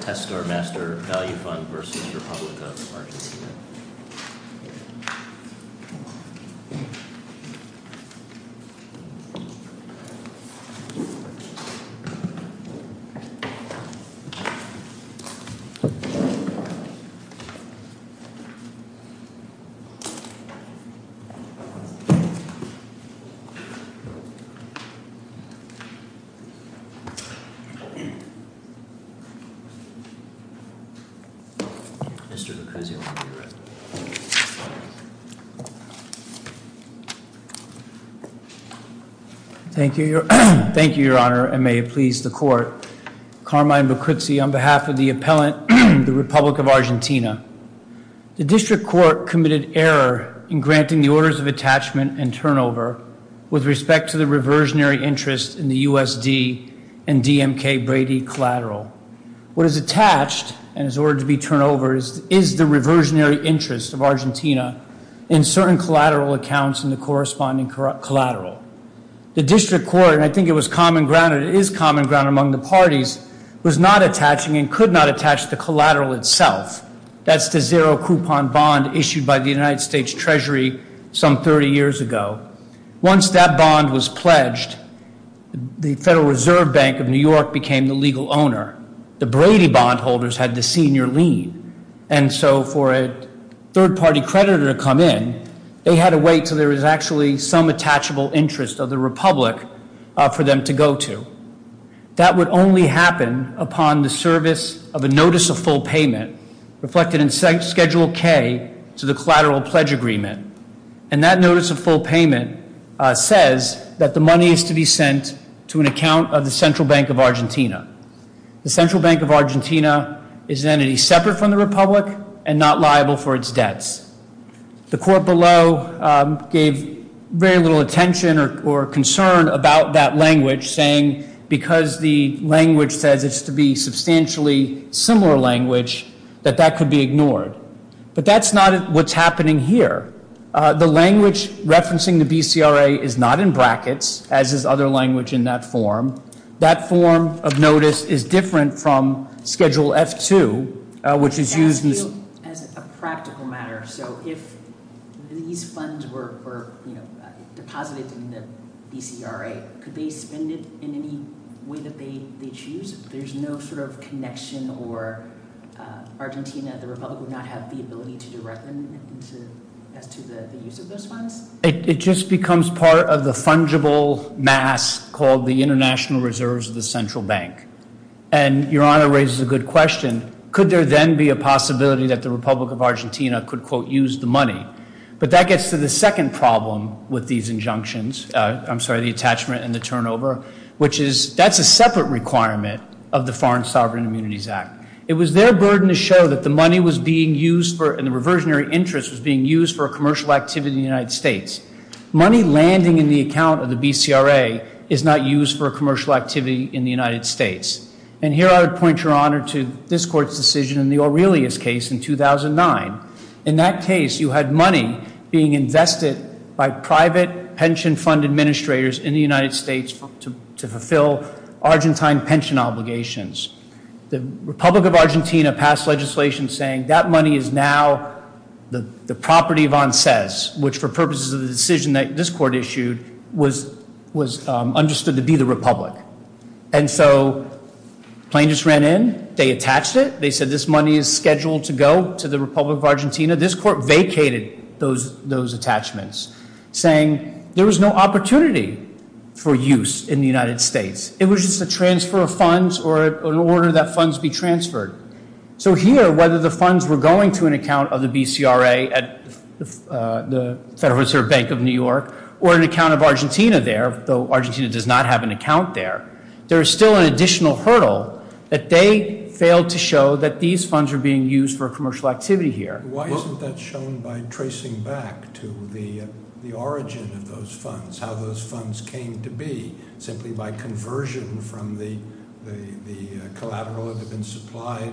TESTESTOR MASTER VALUE FUND LP v. REPUBLIC OF ARGENTINA Mr. Lucuzzi, will you read? Thank you, Your Honor, and may it please the Court. Carmine Lucuzzi on behalf of the appellant, the Republic of Argentina. The District Court committed error in granting the orders of attachment and turnover with respect to the reversionary interest in the U.S.D. and D.M.K. Brady collateral. What is attached and is ordered to be turnover is the reversionary interest of Argentina in certain collateral accounts in the corresponding collateral. The District Court, and I think it was common ground and it is common ground among the parties, was not attaching and could not attach the collateral itself. That's the zero-coupon bond issued by the United States Treasury some 30 years ago. Once that bond was pledged, the Federal Reserve Bank of New York became the legal owner. The Brady bondholders had the senior lead, and so for a third-party creditor to come in, they had to wait until there was actually some attachable interest of the Republic for them to go to. That would only happen upon the service of a notice of full payment reflected in Schedule K to the collateral pledge agreement, and that notice of full payment says that the money is to be sent to an account of the Central Bank of Argentina. The Central Bank of Argentina is an entity separate from the Republic and not liable for its debts. The Court below gave very little attention or concern about that language, saying because the language says it's to be substantially similar language, that that could be ignored. But that's not what's happening here. The language referencing the BCRA is not in brackets, as is other language in that form. That form of notice is different from Schedule F-2, which is used in this case. As a practical matter, so if these funds were deposited in the BCRA, could they spend it in any way that they choose? There's no sort of connection or Argentina, the Republic, would not have the ability to direct them as to the use of those funds? It just becomes part of the fungible mass called the International Reserves of the Central Bank. And Your Honor raises a good question. Could there then be a possibility that the Republic of Argentina could, quote, use the money? But that gets to the second problem with these injunctions, I'm sorry, the attachment and the turnover, which is that's a separate requirement of the Foreign Sovereign Immunities Act. It was their burden to show that the money was being used for, and the reversionary interest was being used for a commercial activity in the United States. Money landing in the account of the BCRA is not used for a commercial activity in the United States. And here I would point, Your Honor, to this Court's decision in the Aurelius case in 2009. In that case, you had money being invested by private pension fund administrators in the United States to fulfill Argentine pension obligations. The Republic of Argentina passed legislation saying that money is now the property of ANSES, which for purposes of the decision that this Court issued was understood to be the Republic. And so the plaintiffs ran in. They attached it. They said this money is scheduled to go to the Republic of Argentina. This Court vacated those attachments, saying there was no opportunity for use in the United States. It was just a transfer of funds or an order that funds be transferred. So here, whether the funds were going to an account of the BCRA at the Federal Reserve Bank of New York or an account of Argentina there, though Argentina does not have an account there, there is still an additional hurdle that they failed to show that these funds are being used for a commercial activity here. Why isn't that shown by tracing back to the origin of those funds, how those funds came to be, simply by conversion from the collateral that had been supplied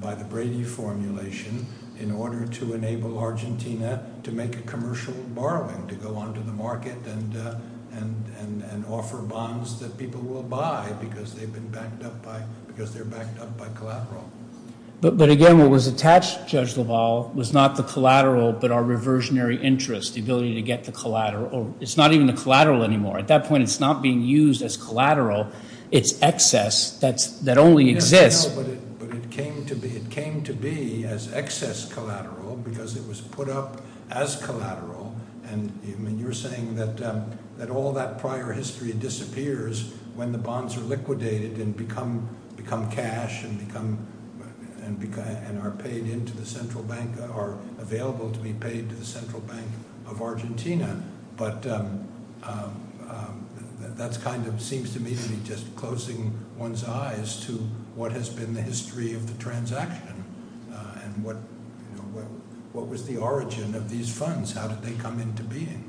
by the Brady formulation in order to enable Argentina to make a commercial borrowing, to go onto the market and offer bonds that people will buy because they've been backed up by collateral. But again, what was attached, Judge LaValle, was not the collateral but our reversionary interest, the ability to get the collateral. It's not even the collateral anymore. At that point, it's not being used as collateral. It's excess that only exists. No, but it came to be as excess collateral because it was put up as collateral. And you're saying that all that prior history disappears when the bonds are liquidated and become cash and are paid into the central bank or available to be paid to the central bank of Argentina. But that kind of seems to me to be just closing one's eyes to what has been the history of the transaction and what was the origin of these funds. How did they come into being?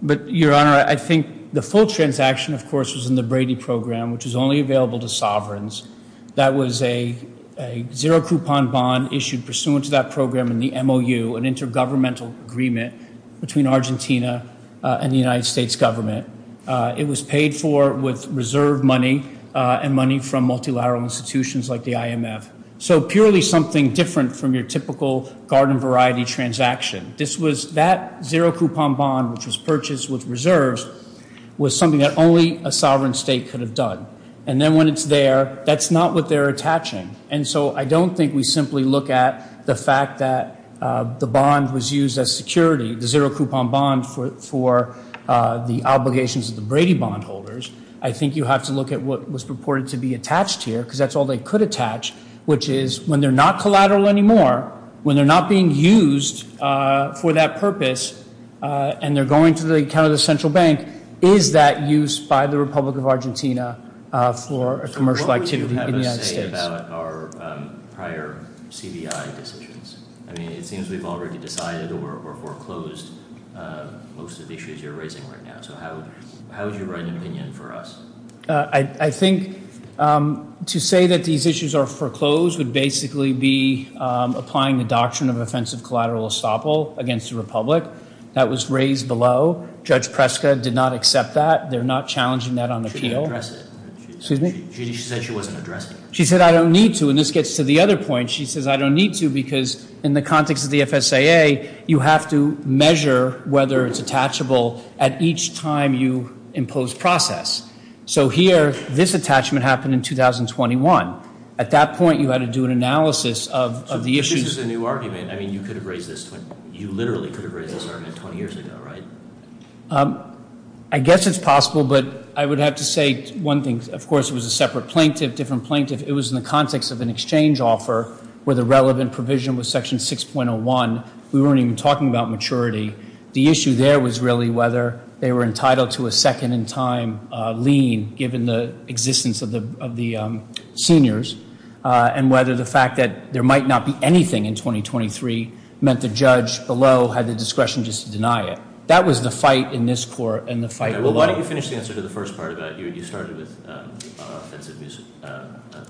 But, Your Honor, I think the full transaction, of course, was in the Brady program, which is only available to sovereigns. That was a zero-coupon bond issued pursuant to that program in the MOU, an intergovernmental agreement between Argentina and the United States government. It was paid for with reserve money and money from multilateral institutions like the IMF. So purely something different from your typical garden variety transaction. This was that zero-coupon bond, which was purchased with reserves, was something that only a sovereign state could have done. And then when it's there, that's not what they're attaching. And so I don't think we simply look at the fact that the bond was used as security, the zero-coupon bond for the obligations of the Brady bond holders. I think you have to look at what was purported to be attached here because that's all they could attach, which is when they're not collateral anymore, when they're not being used for that purpose and they're going to the central bank, is that used by the Republic of Argentina for a commercial activity in the United States? So what would you have us say about our prior CBI decisions? I mean, it seems we've already decided or foreclosed most of the issues you're raising right now. So how would you write an opinion for us? I think to say that these issues are foreclosed would basically be applying the doctrine of offensive collateral estoppel against the Republic. That was raised below. Judge Preska did not accept that. They're not challenging that on appeal. She didn't address it. Excuse me? She said she wasn't addressing it. She said, I don't need to. And this gets to the other point. She says, I don't need to because in the context of the FSAA, you have to measure whether it's attachable at each time you impose process. So here, this attachment happened in 2021. At that point, you had to do an analysis of the issues. So this is a new argument. You literally could have raised this argument 20 years ago, right? I guess it's possible, but I would have to say one thing. Of course, it was a separate plaintiff, different plaintiff. It was in the context of an exchange offer where the relevant provision was Section 6.01. We weren't even talking about maturity. The issue there was really whether they were entitled to a second-in-time lien given the existence of the seniors and whether the fact that there might not be anything in 2023 meant the judge below had the discretion just to deny it. That was the fight in this court and the fight below. Well, why don't you finish the answer to the first part of that? You started with offensive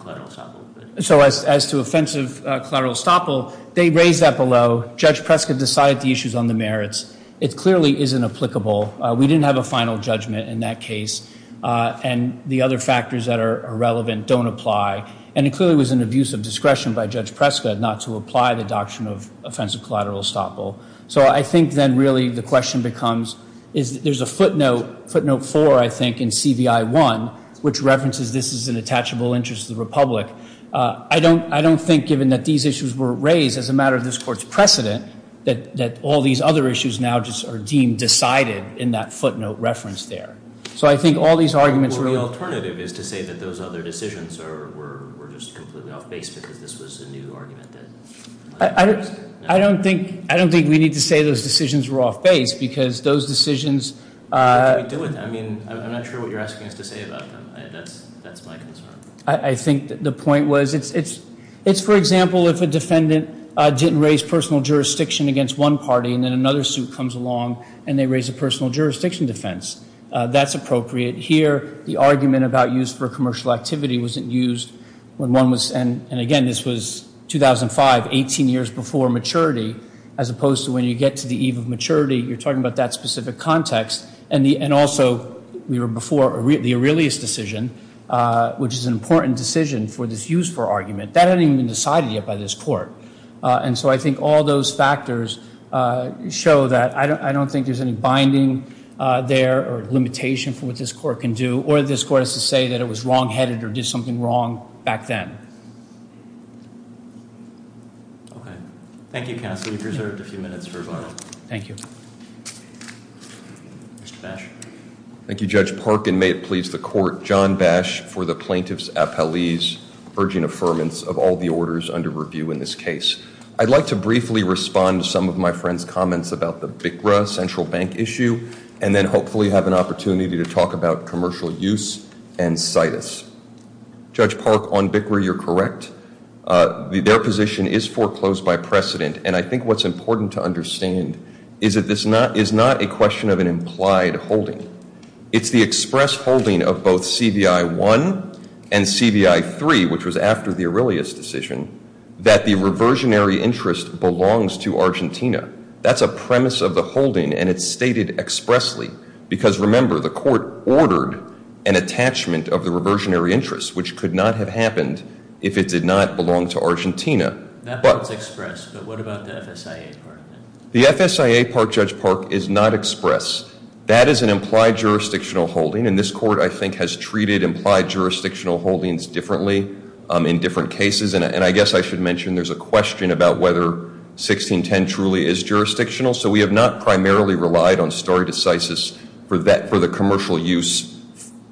collateral estoppel. So as to offensive collateral estoppel, they raised that below. Judge Prescott decided the issues on the merits. It clearly isn't applicable. We didn't have a final judgment in that case. And the other factors that are relevant don't apply. And it clearly was an abuse of discretion by Judge Prescott not to apply the doctrine of offensive collateral estoppel. So I think then really the question becomes is there's a footnote, footnote 4, I think, in CVI 1, which references this is an attachable interest to the Republic. I don't think, given that these issues were raised as a matter of this court's precedent, that all these other issues now just are deemed decided in that footnote reference there. So I think all these arguments were ---- Well, the alternative is to say that those other decisions were just completely off base because this was a new argument that was raised. I don't think we need to say those decisions were off base because those decisions ---- I mean, I'm not sure what you're asking us to say about them. That's my concern. I think the point was it's, for example, if a defendant didn't raise personal jurisdiction against one party and then another suit comes along and they raise a personal jurisdiction defense, that's appropriate. Here the argument about use for commercial activity wasn't used when one was ---- and, again, this was 2005, 18 years before maturity, as opposed to when you get to the eve of maturity. You're talking about that specific context. And also we were before the Aurelius decision, which is an important decision for this use for argument. That hadn't even been decided yet by this court. And so I think all those factors show that I don't think there's any binding there or limitation for what this court can do or this court has to say that it was wrongheaded or did something wrong back then. Okay. Thank you, counsel. You've preserved a few minutes for rebuttal. Thank you. Mr. Bash. Thank you, Judge Parkin. And may it please the court, John Bash for the plaintiff's appellee's urging affirmance of all the orders under review in this case. I'd like to briefly respond to some of my friend's comments about the BICRA central bank issue and then hopefully have an opportunity to talk about commercial use and CITUS. Judge Park, on BICRA, you're correct. Their position is foreclosed by precedent. And I think what's important to understand is that this is not a question of an implied holding. It's the express holding of both CBI 1 and CBI 3, which was after the Aurelius decision, that the reversionary interest belongs to Argentina. That's a premise of the holding, and it's stated expressly. Because, remember, the court ordered an attachment of the reversionary interest, which could not have happened if it did not belong to Argentina. That part's express, but what about the FSIA part? The FSIA part, Judge Park, is not express. That is an implied jurisdictional holding, and this court I think has treated implied jurisdictional holdings differently in different cases. And I guess I should mention there's a question about whether 1610 truly is jurisdictional. So we have not primarily relied on stare decisis for the commercial use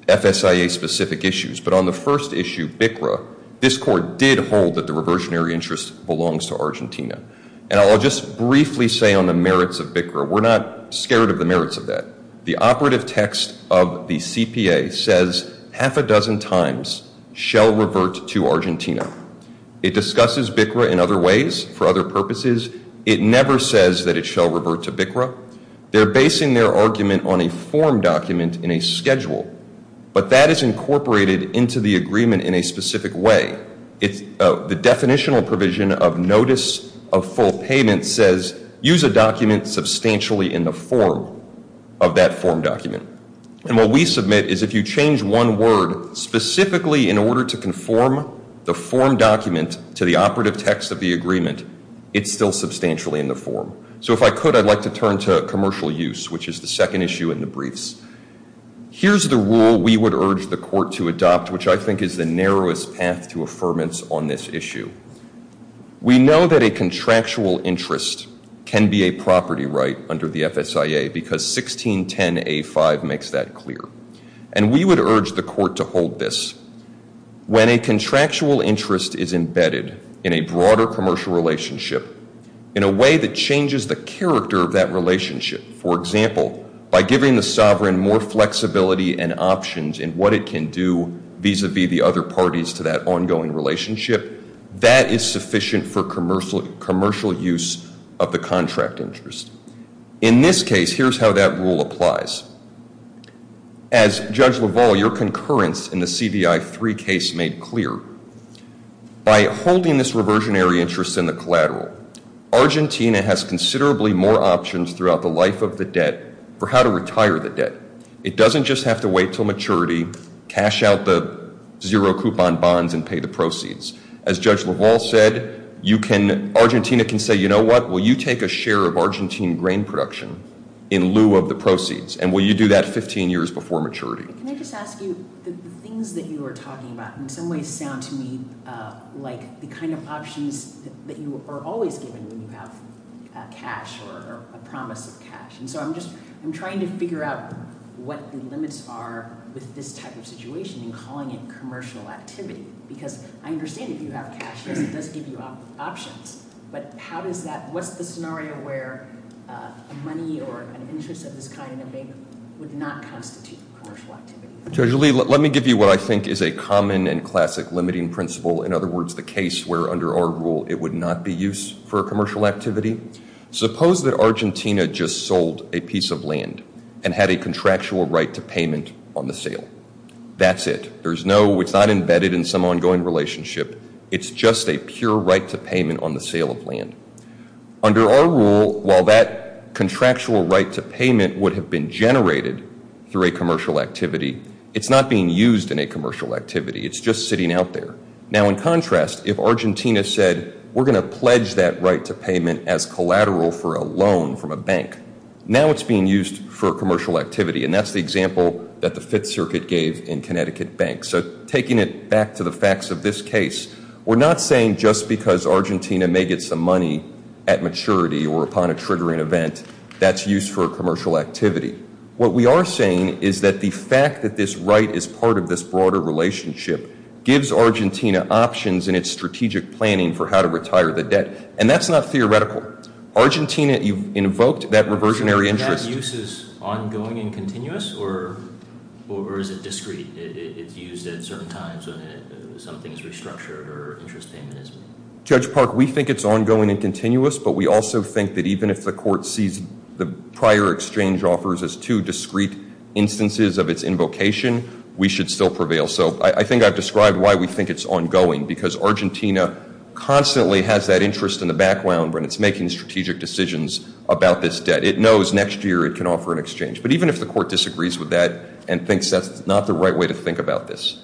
FSIA-specific issues. But on the first issue, BICRA, this court did hold that the reversionary interest belongs to Argentina. We're not scared of the merits of that. The operative text of the CPA says half a dozen times, shall revert to Argentina. It discusses BICRA in other ways for other purposes. It never says that it shall revert to BICRA. They're basing their argument on a form document in a schedule. But that is incorporated into the agreement in a specific way. The definitional provision of notice of full payment says, use a document substantially in the form of that form document. And what we submit is if you change one word specifically in order to conform the form document to the operative text of the agreement, it's still substantially in the form. So if I could, I'd like to turn to commercial use, which is the second issue in the briefs. Here's the rule we would urge the court to adopt, which I think is the narrowest path to affirmance on this issue. We know that a contractual interest can be a property right under the FSIA because 1610A5 makes that clear. And we would urge the court to hold this. When a contractual interest is embedded in a broader commercial relationship, in a way that changes the character of that relationship, for example, by giving the sovereign more flexibility and options in what it can do vis-a-vis the other parties to that ongoing relationship, that is sufficient for commercial use of the contract interest. In this case, here's how that rule applies. As Judge LaValle, your concurrence in the CDI 3 case made clear. By holding this reversionary interest in the collateral, Argentina has considerably more options throughout the life of the debt for how to retire the debt. It doesn't just have to wait until maturity, cash out the zero-coupon bonds and pay the proceeds. As Judge LaValle said, Argentina can say, you know what, will you take a share of Argentine grain production in lieu of the proceeds, and will you do that 15 years before maturity? Can I just ask you, the things that you were talking about in some ways sound to me like the kind of options that you are always given when you have cash or a promise of cash. And so I'm just, I'm trying to figure out what the limits are with this type of situation and calling it commercial activity, because I understand if you have cash, yes, it does give you options. But how does that, what's the scenario where money or an interest of this kind in a bank would not constitute commercial activity? Judge Lee, let me give you what I think is a common and classic limiting principle, in other words, the case where under our rule it would not be used for commercial activity. Suppose that Argentina just sold a piece of land and had a contractual right to payment on the sale. That's it. There's no, it's not embedded in some ongoing relationship. It's just a pure right to payment on the sale of land. Under our rule, while that contractual right to payment would have been generated through a commercial activity, it's not being used in a commercial activity. It's just sitting out there. Now, in contrast, if Argentina said we're going to pledge that right to payment as collateral for a loan from a bank, now it's being used for commercial activity. And that's the example that the Fifth Circuit gave in Connecticut Bank. So taking it back to the facts of this case, we're not saying just because Argentina may get some money at maturity or upon a triggering event that's used for a commercial activity. What we are saying is that the fact that this right is part of this broader relationship gives Argentina options in its strategic planning for how to retire the debt. And that's not theoretical. Argentina, you've invoked that reversionary interest. Do you think that use is ongoing and continuous, or is it discrete? It's used at certain times when something is restructured or interest payment is made. Judge Park, we think it's ongoing and continuous, but we also think that even if the court sees the prior exchange offers as two discrete instances of its invocation, we should still prevail. So I think I've described why we think it's ongoing, because Argentina constantly has that interest in the background when it's making strategic decisions about this debt. It knows next year it can offer an exchange. But even if the court disagrees with that and thinks that's not the right way to think about this,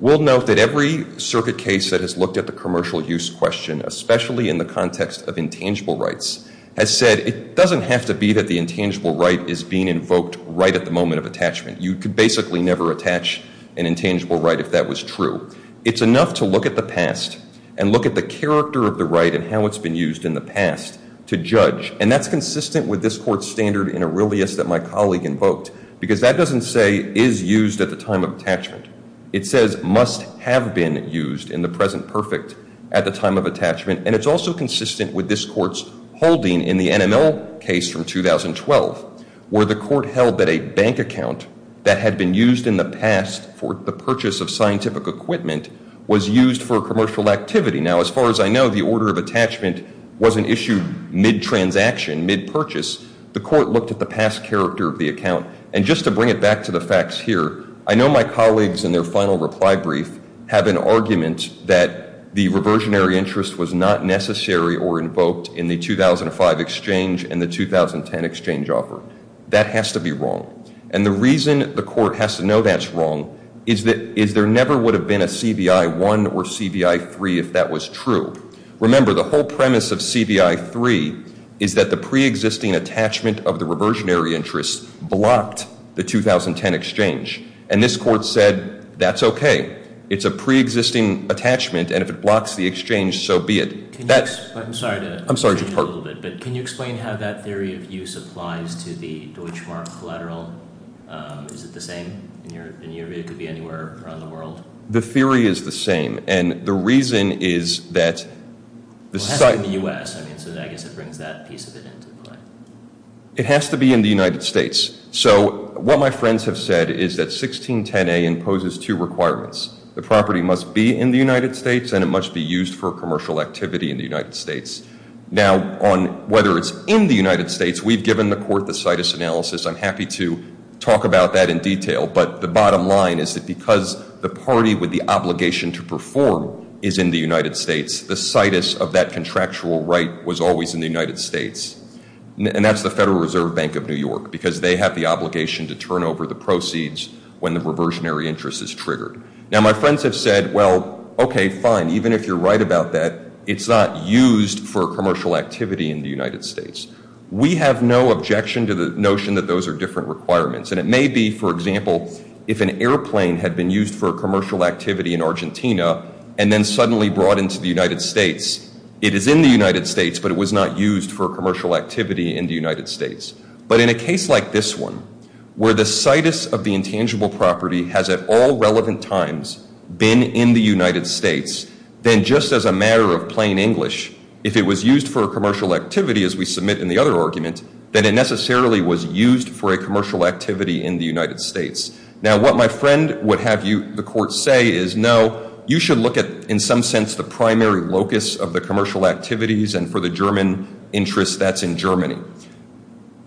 we'll note that every circuit case that has looked at the commercial use question, especially in the context of intangible rights, has said it doesn't have to be that the intangible right is being invoked right at the moment of attachment. You could basically never attach an intangible right if that was true. It's enough to look at the past and look at the character of the right and how it's been used in the past to judge. And that's consistent with this court's standard in Aurelius that my colleague invoked, because that doesn't say is used at the time of attachment. It says must have been used in the present perfect at the time of attachment. And it's also consistent with this court's holding in the NML case from 2012, where the court held that a bank account that had been used in the past for the purchase of scientific equipment was used for commercial activity. Now, as far as I know, the order of attachment wasn't issued mid-transaction, mid-purchase. The court looked at the past character of the account. And just to bring it back to the facts here, I know my colleagues in their final reply brief have an argument that the reversionary interest was not necessary or invoked in the 2005 exchange and the 2010 exchange offer. That has to be wrong. And the reason the court has to know that's wrong is there never would have been a CBI 1 or CBI 3 if that was true. Remember, the whole premise of CBI 3 is that the preexisting attachment of the reversionary interest blocked the 2010 exchange. And this court said that's okay. It's a preexisting attachment, and if it blocks the exchange, so be it. I'm sorry to interrupt. Can you explain how that theory of use applies to the Deutschmark collateral? Is it the same in Europe? It could be anywhere around the world. The theory is the same. And the reason is that the site... Well, it has to be in the U.S. I mean, so I guess it brings that piece of it into play. It has to be in the United States. So what my friends have said is that 1610A imposes two requirements. The property must be in the United States, and it must be used for commercial activity in the United States. Now, on whether it's in the United States, we've given the court the CITUS analysis. I'm happy to talk about that in detail. But the bottom line is that because the party with the obligation to perform is in the United States, the CITUS of that contractual right was always in the United States. And that's the Federal Reserve Bank of New York, because they have the obligation to turn over the proceeds when the reversionary interest is triggered. Now, my friends have said, well, okay, fine, even if you're right about that, it's not used for commercial activity in the United States. We have no objection to the notion that those are different requirements. And it may be, for example, if an airplane had been used for commercial activity in Argentina and then suddenly brought into the United States, it is in the United States, but it was not used for commercial activity in the United States. But in a case like this one, where the CITUS of the intangible property has at all relevant times been in the United States, then just as a matter of plain English, if it was used for commercial activity, as we submit in the other argument, then it necessarily was used for a commercial activity in the United States. Now, what my friend would have the court say is, no, you should look at, in some sense, the primary locus of the commercial activities and for the German interest, that's in Germany.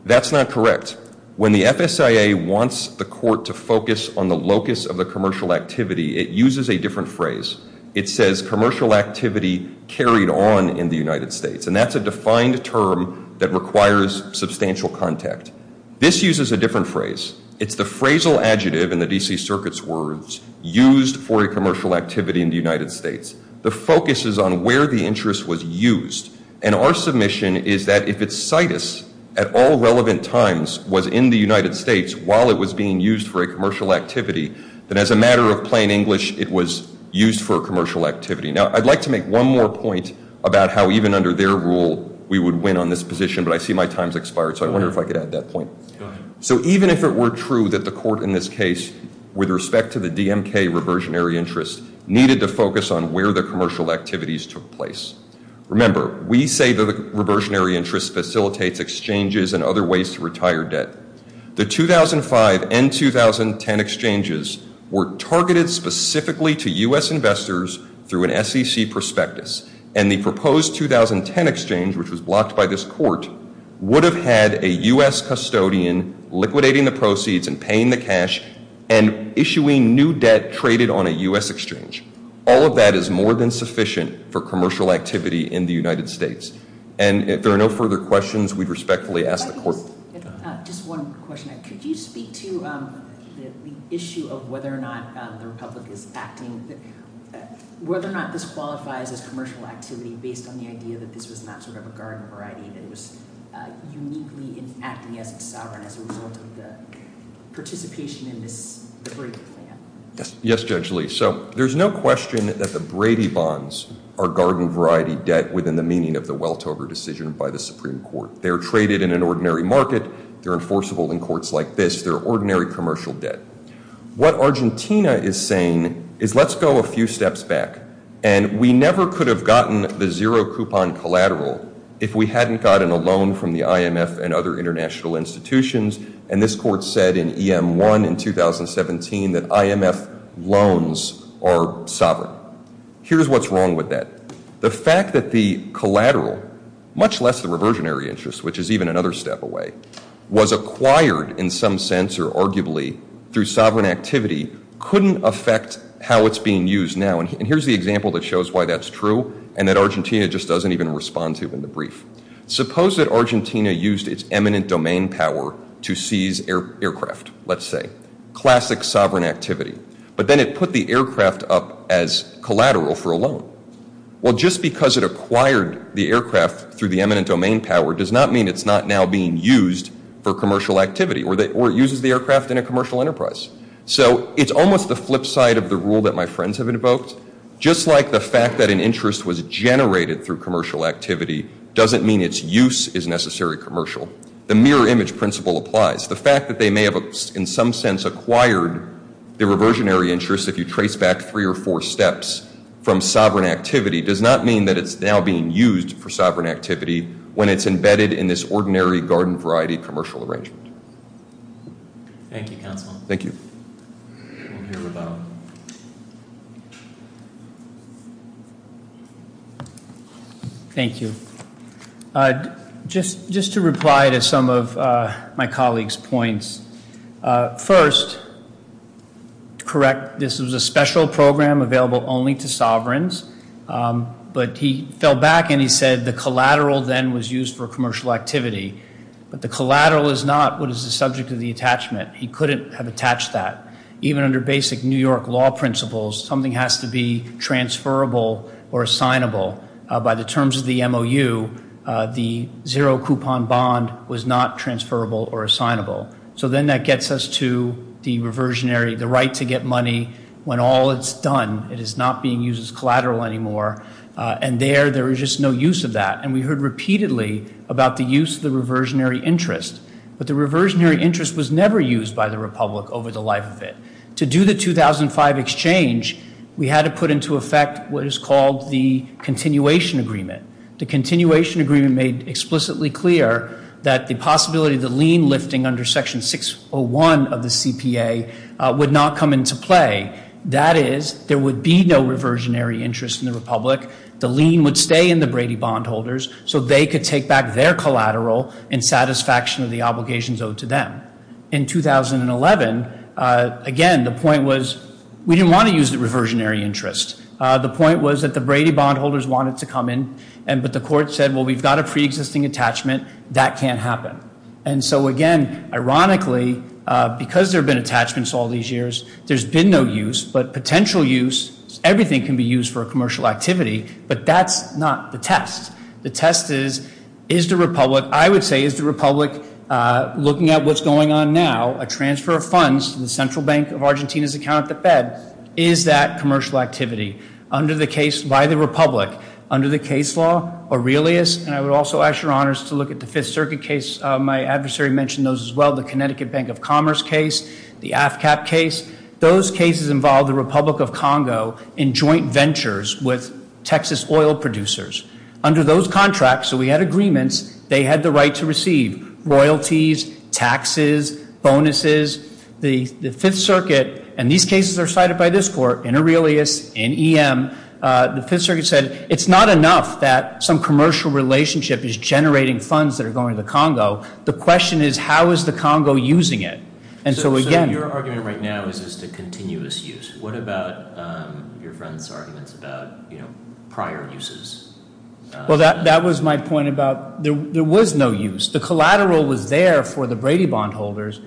That's not correct. When the FSIA wants the court to focus on the locus of the commercial activity, it uses a different phrase. It says commercial activity carried on in the United States. And that's a defined term that requires substantial contact. This uses a different phrase. It's the phrasal adjective in the D.C. Circuit's words, used for a commercial activity in the United States. The focus is on where the interest was used. And our submission is that if it's CITUS at all relevant times was in the United States while it was being used for a commercial activity, then as a matter of plain English, it was used for a commercial activity. Now, I'd like to make one more point about how even under their rule we would win on this position, but I see my time's expired, so I wonder if I could add that point. So even if it were true that the court in this case, with respect to the DMK reversionary interest, needed to focus on where the commercial activities took place. Remember, we say the reversionary interest facilitates exchanges and other ways to retire debt. The 2005 and 2010 exchanges were targeted specifically to U.S. investors through an SEC prospectus. And the proposed 2010 exchange, which was blocked by this court, would have had a U.S. custodian liquidating the proceeds and paying the cash and issuing new debt traded on a U.S. exchange. All of that is more than sufficient for commercial activity in the United States. And if there are no further questions, we'd respectfully ask the court. Just one question. Could you speak to the issue of whether or not the Republic is acting, whether or not this qualifies as commercial activity based on the idea that this was not sort of a garden variety that was uniquely acting as a sovereign as a result of the participation in this Brady plan? Yes, Judge Lee. So there's no question that the Brady bonds are garden variety debt within the meaning of the Weltover decision by the Supreme Court. They're traded in an ordinary market. They're enforceable in courts like this. They're ordinary commercial debt. What Argentina is saying is let's go a few steps back. And we never could have gotten the zero-coupon collateral if we hadn't gotten a loan from the IMF and other international institutions. And this court said in EM1 in 2017 that IMF loans are sovereign. Here's what's wrong with that. The fact that the collateral, much less the reversionary interest, which is even another step away, was acquired in some sense or arguably through sovereign activity, couldn't affect how it's being used now. And here's the example that shows why that's true and that Argentina just doesn't even respond to in the brief. Suppose that Argentina used its eminent domain power to seize aircraft, let's say. Classic sovereign activity. But then it put the aircraft up as collateral for a loan. Well, just because it acquired the aircraft through the eminent domain power does not mean it's not now being used for commercial activity or it uses the aircraft in a commercial enterprise. So it's almost the flip side of the rule that my friends have invoked. Just like the fact that an interest was generated through commercial activity doesn't mean its use is necessary commercial. The mirror image principle applies. The fact that they may have in some sense acquired the reversionary interest if you trace back three or four steps from sovereign activity does not mean that it's now being used for sovereign activity when it's embedded in this ordinary garden variety commercial arrangement. Thank you, counsel. Thank you. We'll hear about it. Thank you. Just to reply to some of my colleague's points. First, to correct, this was a special program available only to sovereigns. But he fell back and he said the collateral then was used for commercial activity. But the collateral is not what is the subject of the attachment. He couldn't have attached that. Even under basic New York law principles, something has to be transferable or assignable. By the terms of the MOU, the zero coupon bond was not transferable or assignable. So then that gets us to the reversionary, the right to get money when all is done. It is not being used as collateral anymore. And there, there is just no use of that. And we heard repeatedly about the use of the reversionary interest. But the reversionary interest was never used by the republic over the life of it. To do the 2005 exchange, we had to put into effect what is called the continuation agreement. The continuation agreement made explicitly clear that the possibility of the lien lifting under section 601 of the CPA would not come into play. That is, there would be no reversionary interest in the republic. The lien would stay in the Brady bond holders. So they could take back their collateral in satisfaction of the obligations owed to them. In 2011, again, the point was we didn't want to use the reversionary interest. The point was that the Brady bond holders wanted to come in. But the court said, well, we've got a preexisting attachment. That can't happen. And so, again, ironically, because there have been attachments all these years, there's been no use. But potential use, everything can be used for a commercial activity. But that's not the test. The test is, is the republic, I would say, is the republic looking at what's going on now, a transfer of funds to the Central Bank of Argentina's account at the Fed, is that commercial activity? Under the case by the republic, under the case law, Aurelius, and I would also ask your honors to look at the Fifth Circuit case, my adversary mentioned those as well, the Connecticut Bank of Commerce case, the AFCAP case, those cases involved the Republic of Congo in joint ventures with Texas oil producers. Under those contracts, so we had agreements, they had the right to receive royalties, taxes, bonuses. The Fifth Circuit, and these cases are cited by this court, in Aurelius, in EM, the Fifth Circuit said it's not enough that some commercial relationship is generating funds that are going to the Congo. The question is how is the Congo using it? And so again- So your argument right now is just a continuous use. What about your friend's arguments about, you know, prior uses? Well, that was my point about there was no use. The collateral was there for the Brady Bond holders.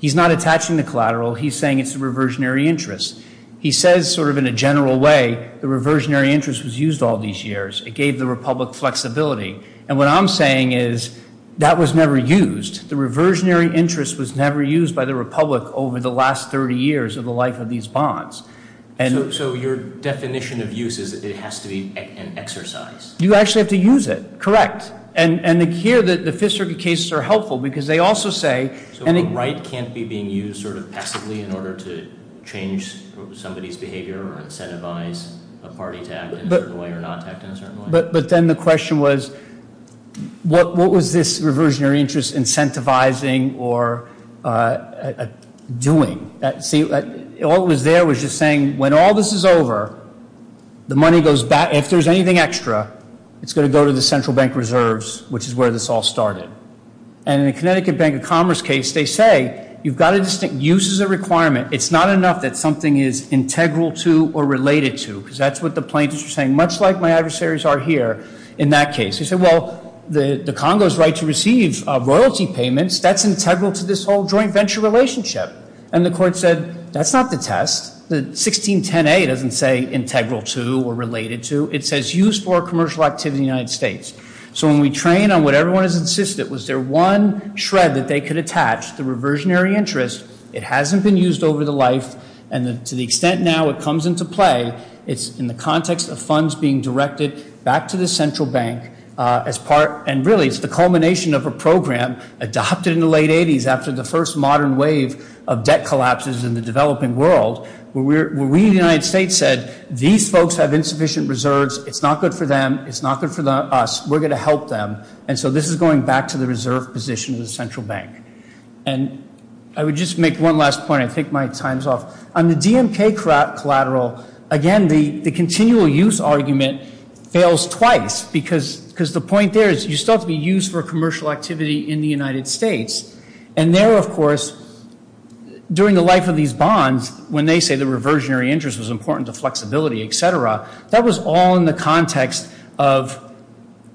He's not attaching the collateral. He's saying it's a reversionary interest. He says sort of in a general way the reversionary interest was used all these years. It gave the republic flexibility. And what I'm saying is that was never used. The reversionary interest was never used by the republic over the last 30 years of the life of these bonds. So your definition of use is it has to be an exercise? You actually have to use it, correct. And here the Fifth Circuit cases are helpful because they also say- So a right can't be being used sort of passively in order to change somebody's behavior or incentivize a party to act in a certain way or not act in a certain way? But then the question was what was this reversionary interest incentivizing or doing? See, all it was there was just saying when all this is over, the money goes back. If there's anything extra, it's going to go to the central bank reserves, which is where this all started. And in the Connecticut Bank of Commerce case, they say you've got a distinct use as a requirement. It's not enough that something is integral to or related to because that's what the plaintiffs are saying. Much like my adversaries are here in that case. They say, well, the Congo's right to receive royalty payments. That's integral to this whole joint venture relationship. And the court said that's not the test. The 1610A doesn't say integral to or related to. It says used for commercial activity in the United States. So when we train on what everyone has insisted, was there one shred that they could attach? The reversionary interest, it hasn't been used over the life, and to the extent now it comes into play, it's in the context of funds being directed back to the central bank as part, and really it's the culmination of a program adopted in the late 80s after the first modern wave of debt collapses in the developing world, where we in the United States said these folks have insufficient reserves. It's not good for them. It's not good for us. We're going to help them. And so this is going back to the reserve position of the central bank. And I would just make one last point. I take my times off. On the DMK collateral, again, the continual use argument fails twice, because the point there is you still have to be used for commercial activity in the United States. And there, of course, during the life of these bonds, when they say the reversionary interest was important to flexibility, et cetera, that was all in the context of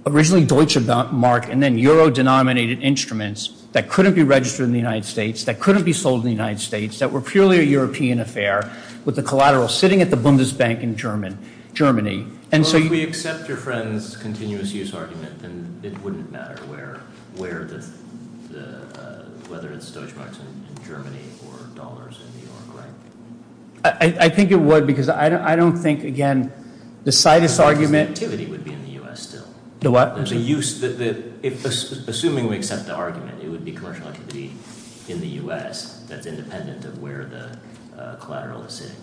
originally Deutsche Mark and then Euro-denominated instruments that couldn't be registered in the United States, that couldn't be sold in the United States, that were purely a European affair with the collateral sitting at the Bundesbank in Germany. Well, if we accept your friend's continuous use argument, then it wouldn't matter whether it's Deutsche Marks in Germany or dollars in New York, right? I think it would, because I don't think, again, the situs argument — Because the activity would be in the U.S. still. The what? Assuming we accept the argument, it would be commercial activity in the U.S. that's independent of where the collateral is sitting.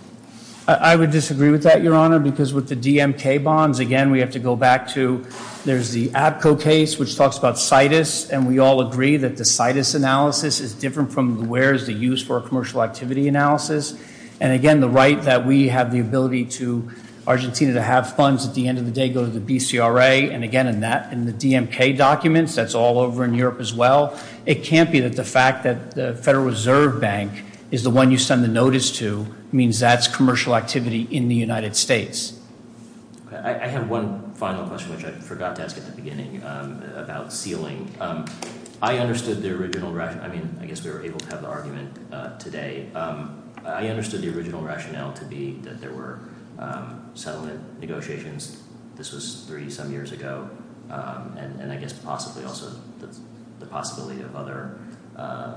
I would disagree with that, Your Honor, because with the DMK bonds, again, we have to go back to — there's the APCO case, which talks about situs, and we all agree that the situs analysis is different from where is the use for a commercial activity analysis. And, again, the right that we have the ability to — Argentina to have funds at the end of the day go to the BCRA. And, again, in the DMK documents, that's all over in Europe as well. It can't be that the fact that the Federal Reserve Bank is the one you send the notice to means that's commercial activity in the United States. I have one final question, which I forgot to ask at the beginning about sealing. I understood the original — I mean, I guess we were able to have the argument today. I understood the original rationale to be that there were settlement negotiations. This was 30-some years ago. And I guess possibly also the possibility of other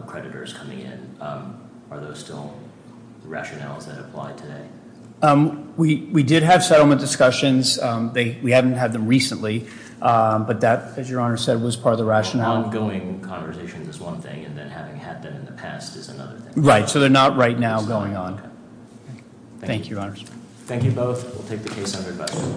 creditors coming in. Are those still rationales that apply today? We did have settlement discussions. We haven't had them recently, but that, as Your Honor said, was part of the rationale. Well, ongoing conversations is one thing, and then having had them in the past is another thing. Right, so they're not right now going on. Thank you, Your Honor. Thank you both. We'll take the case under advisory.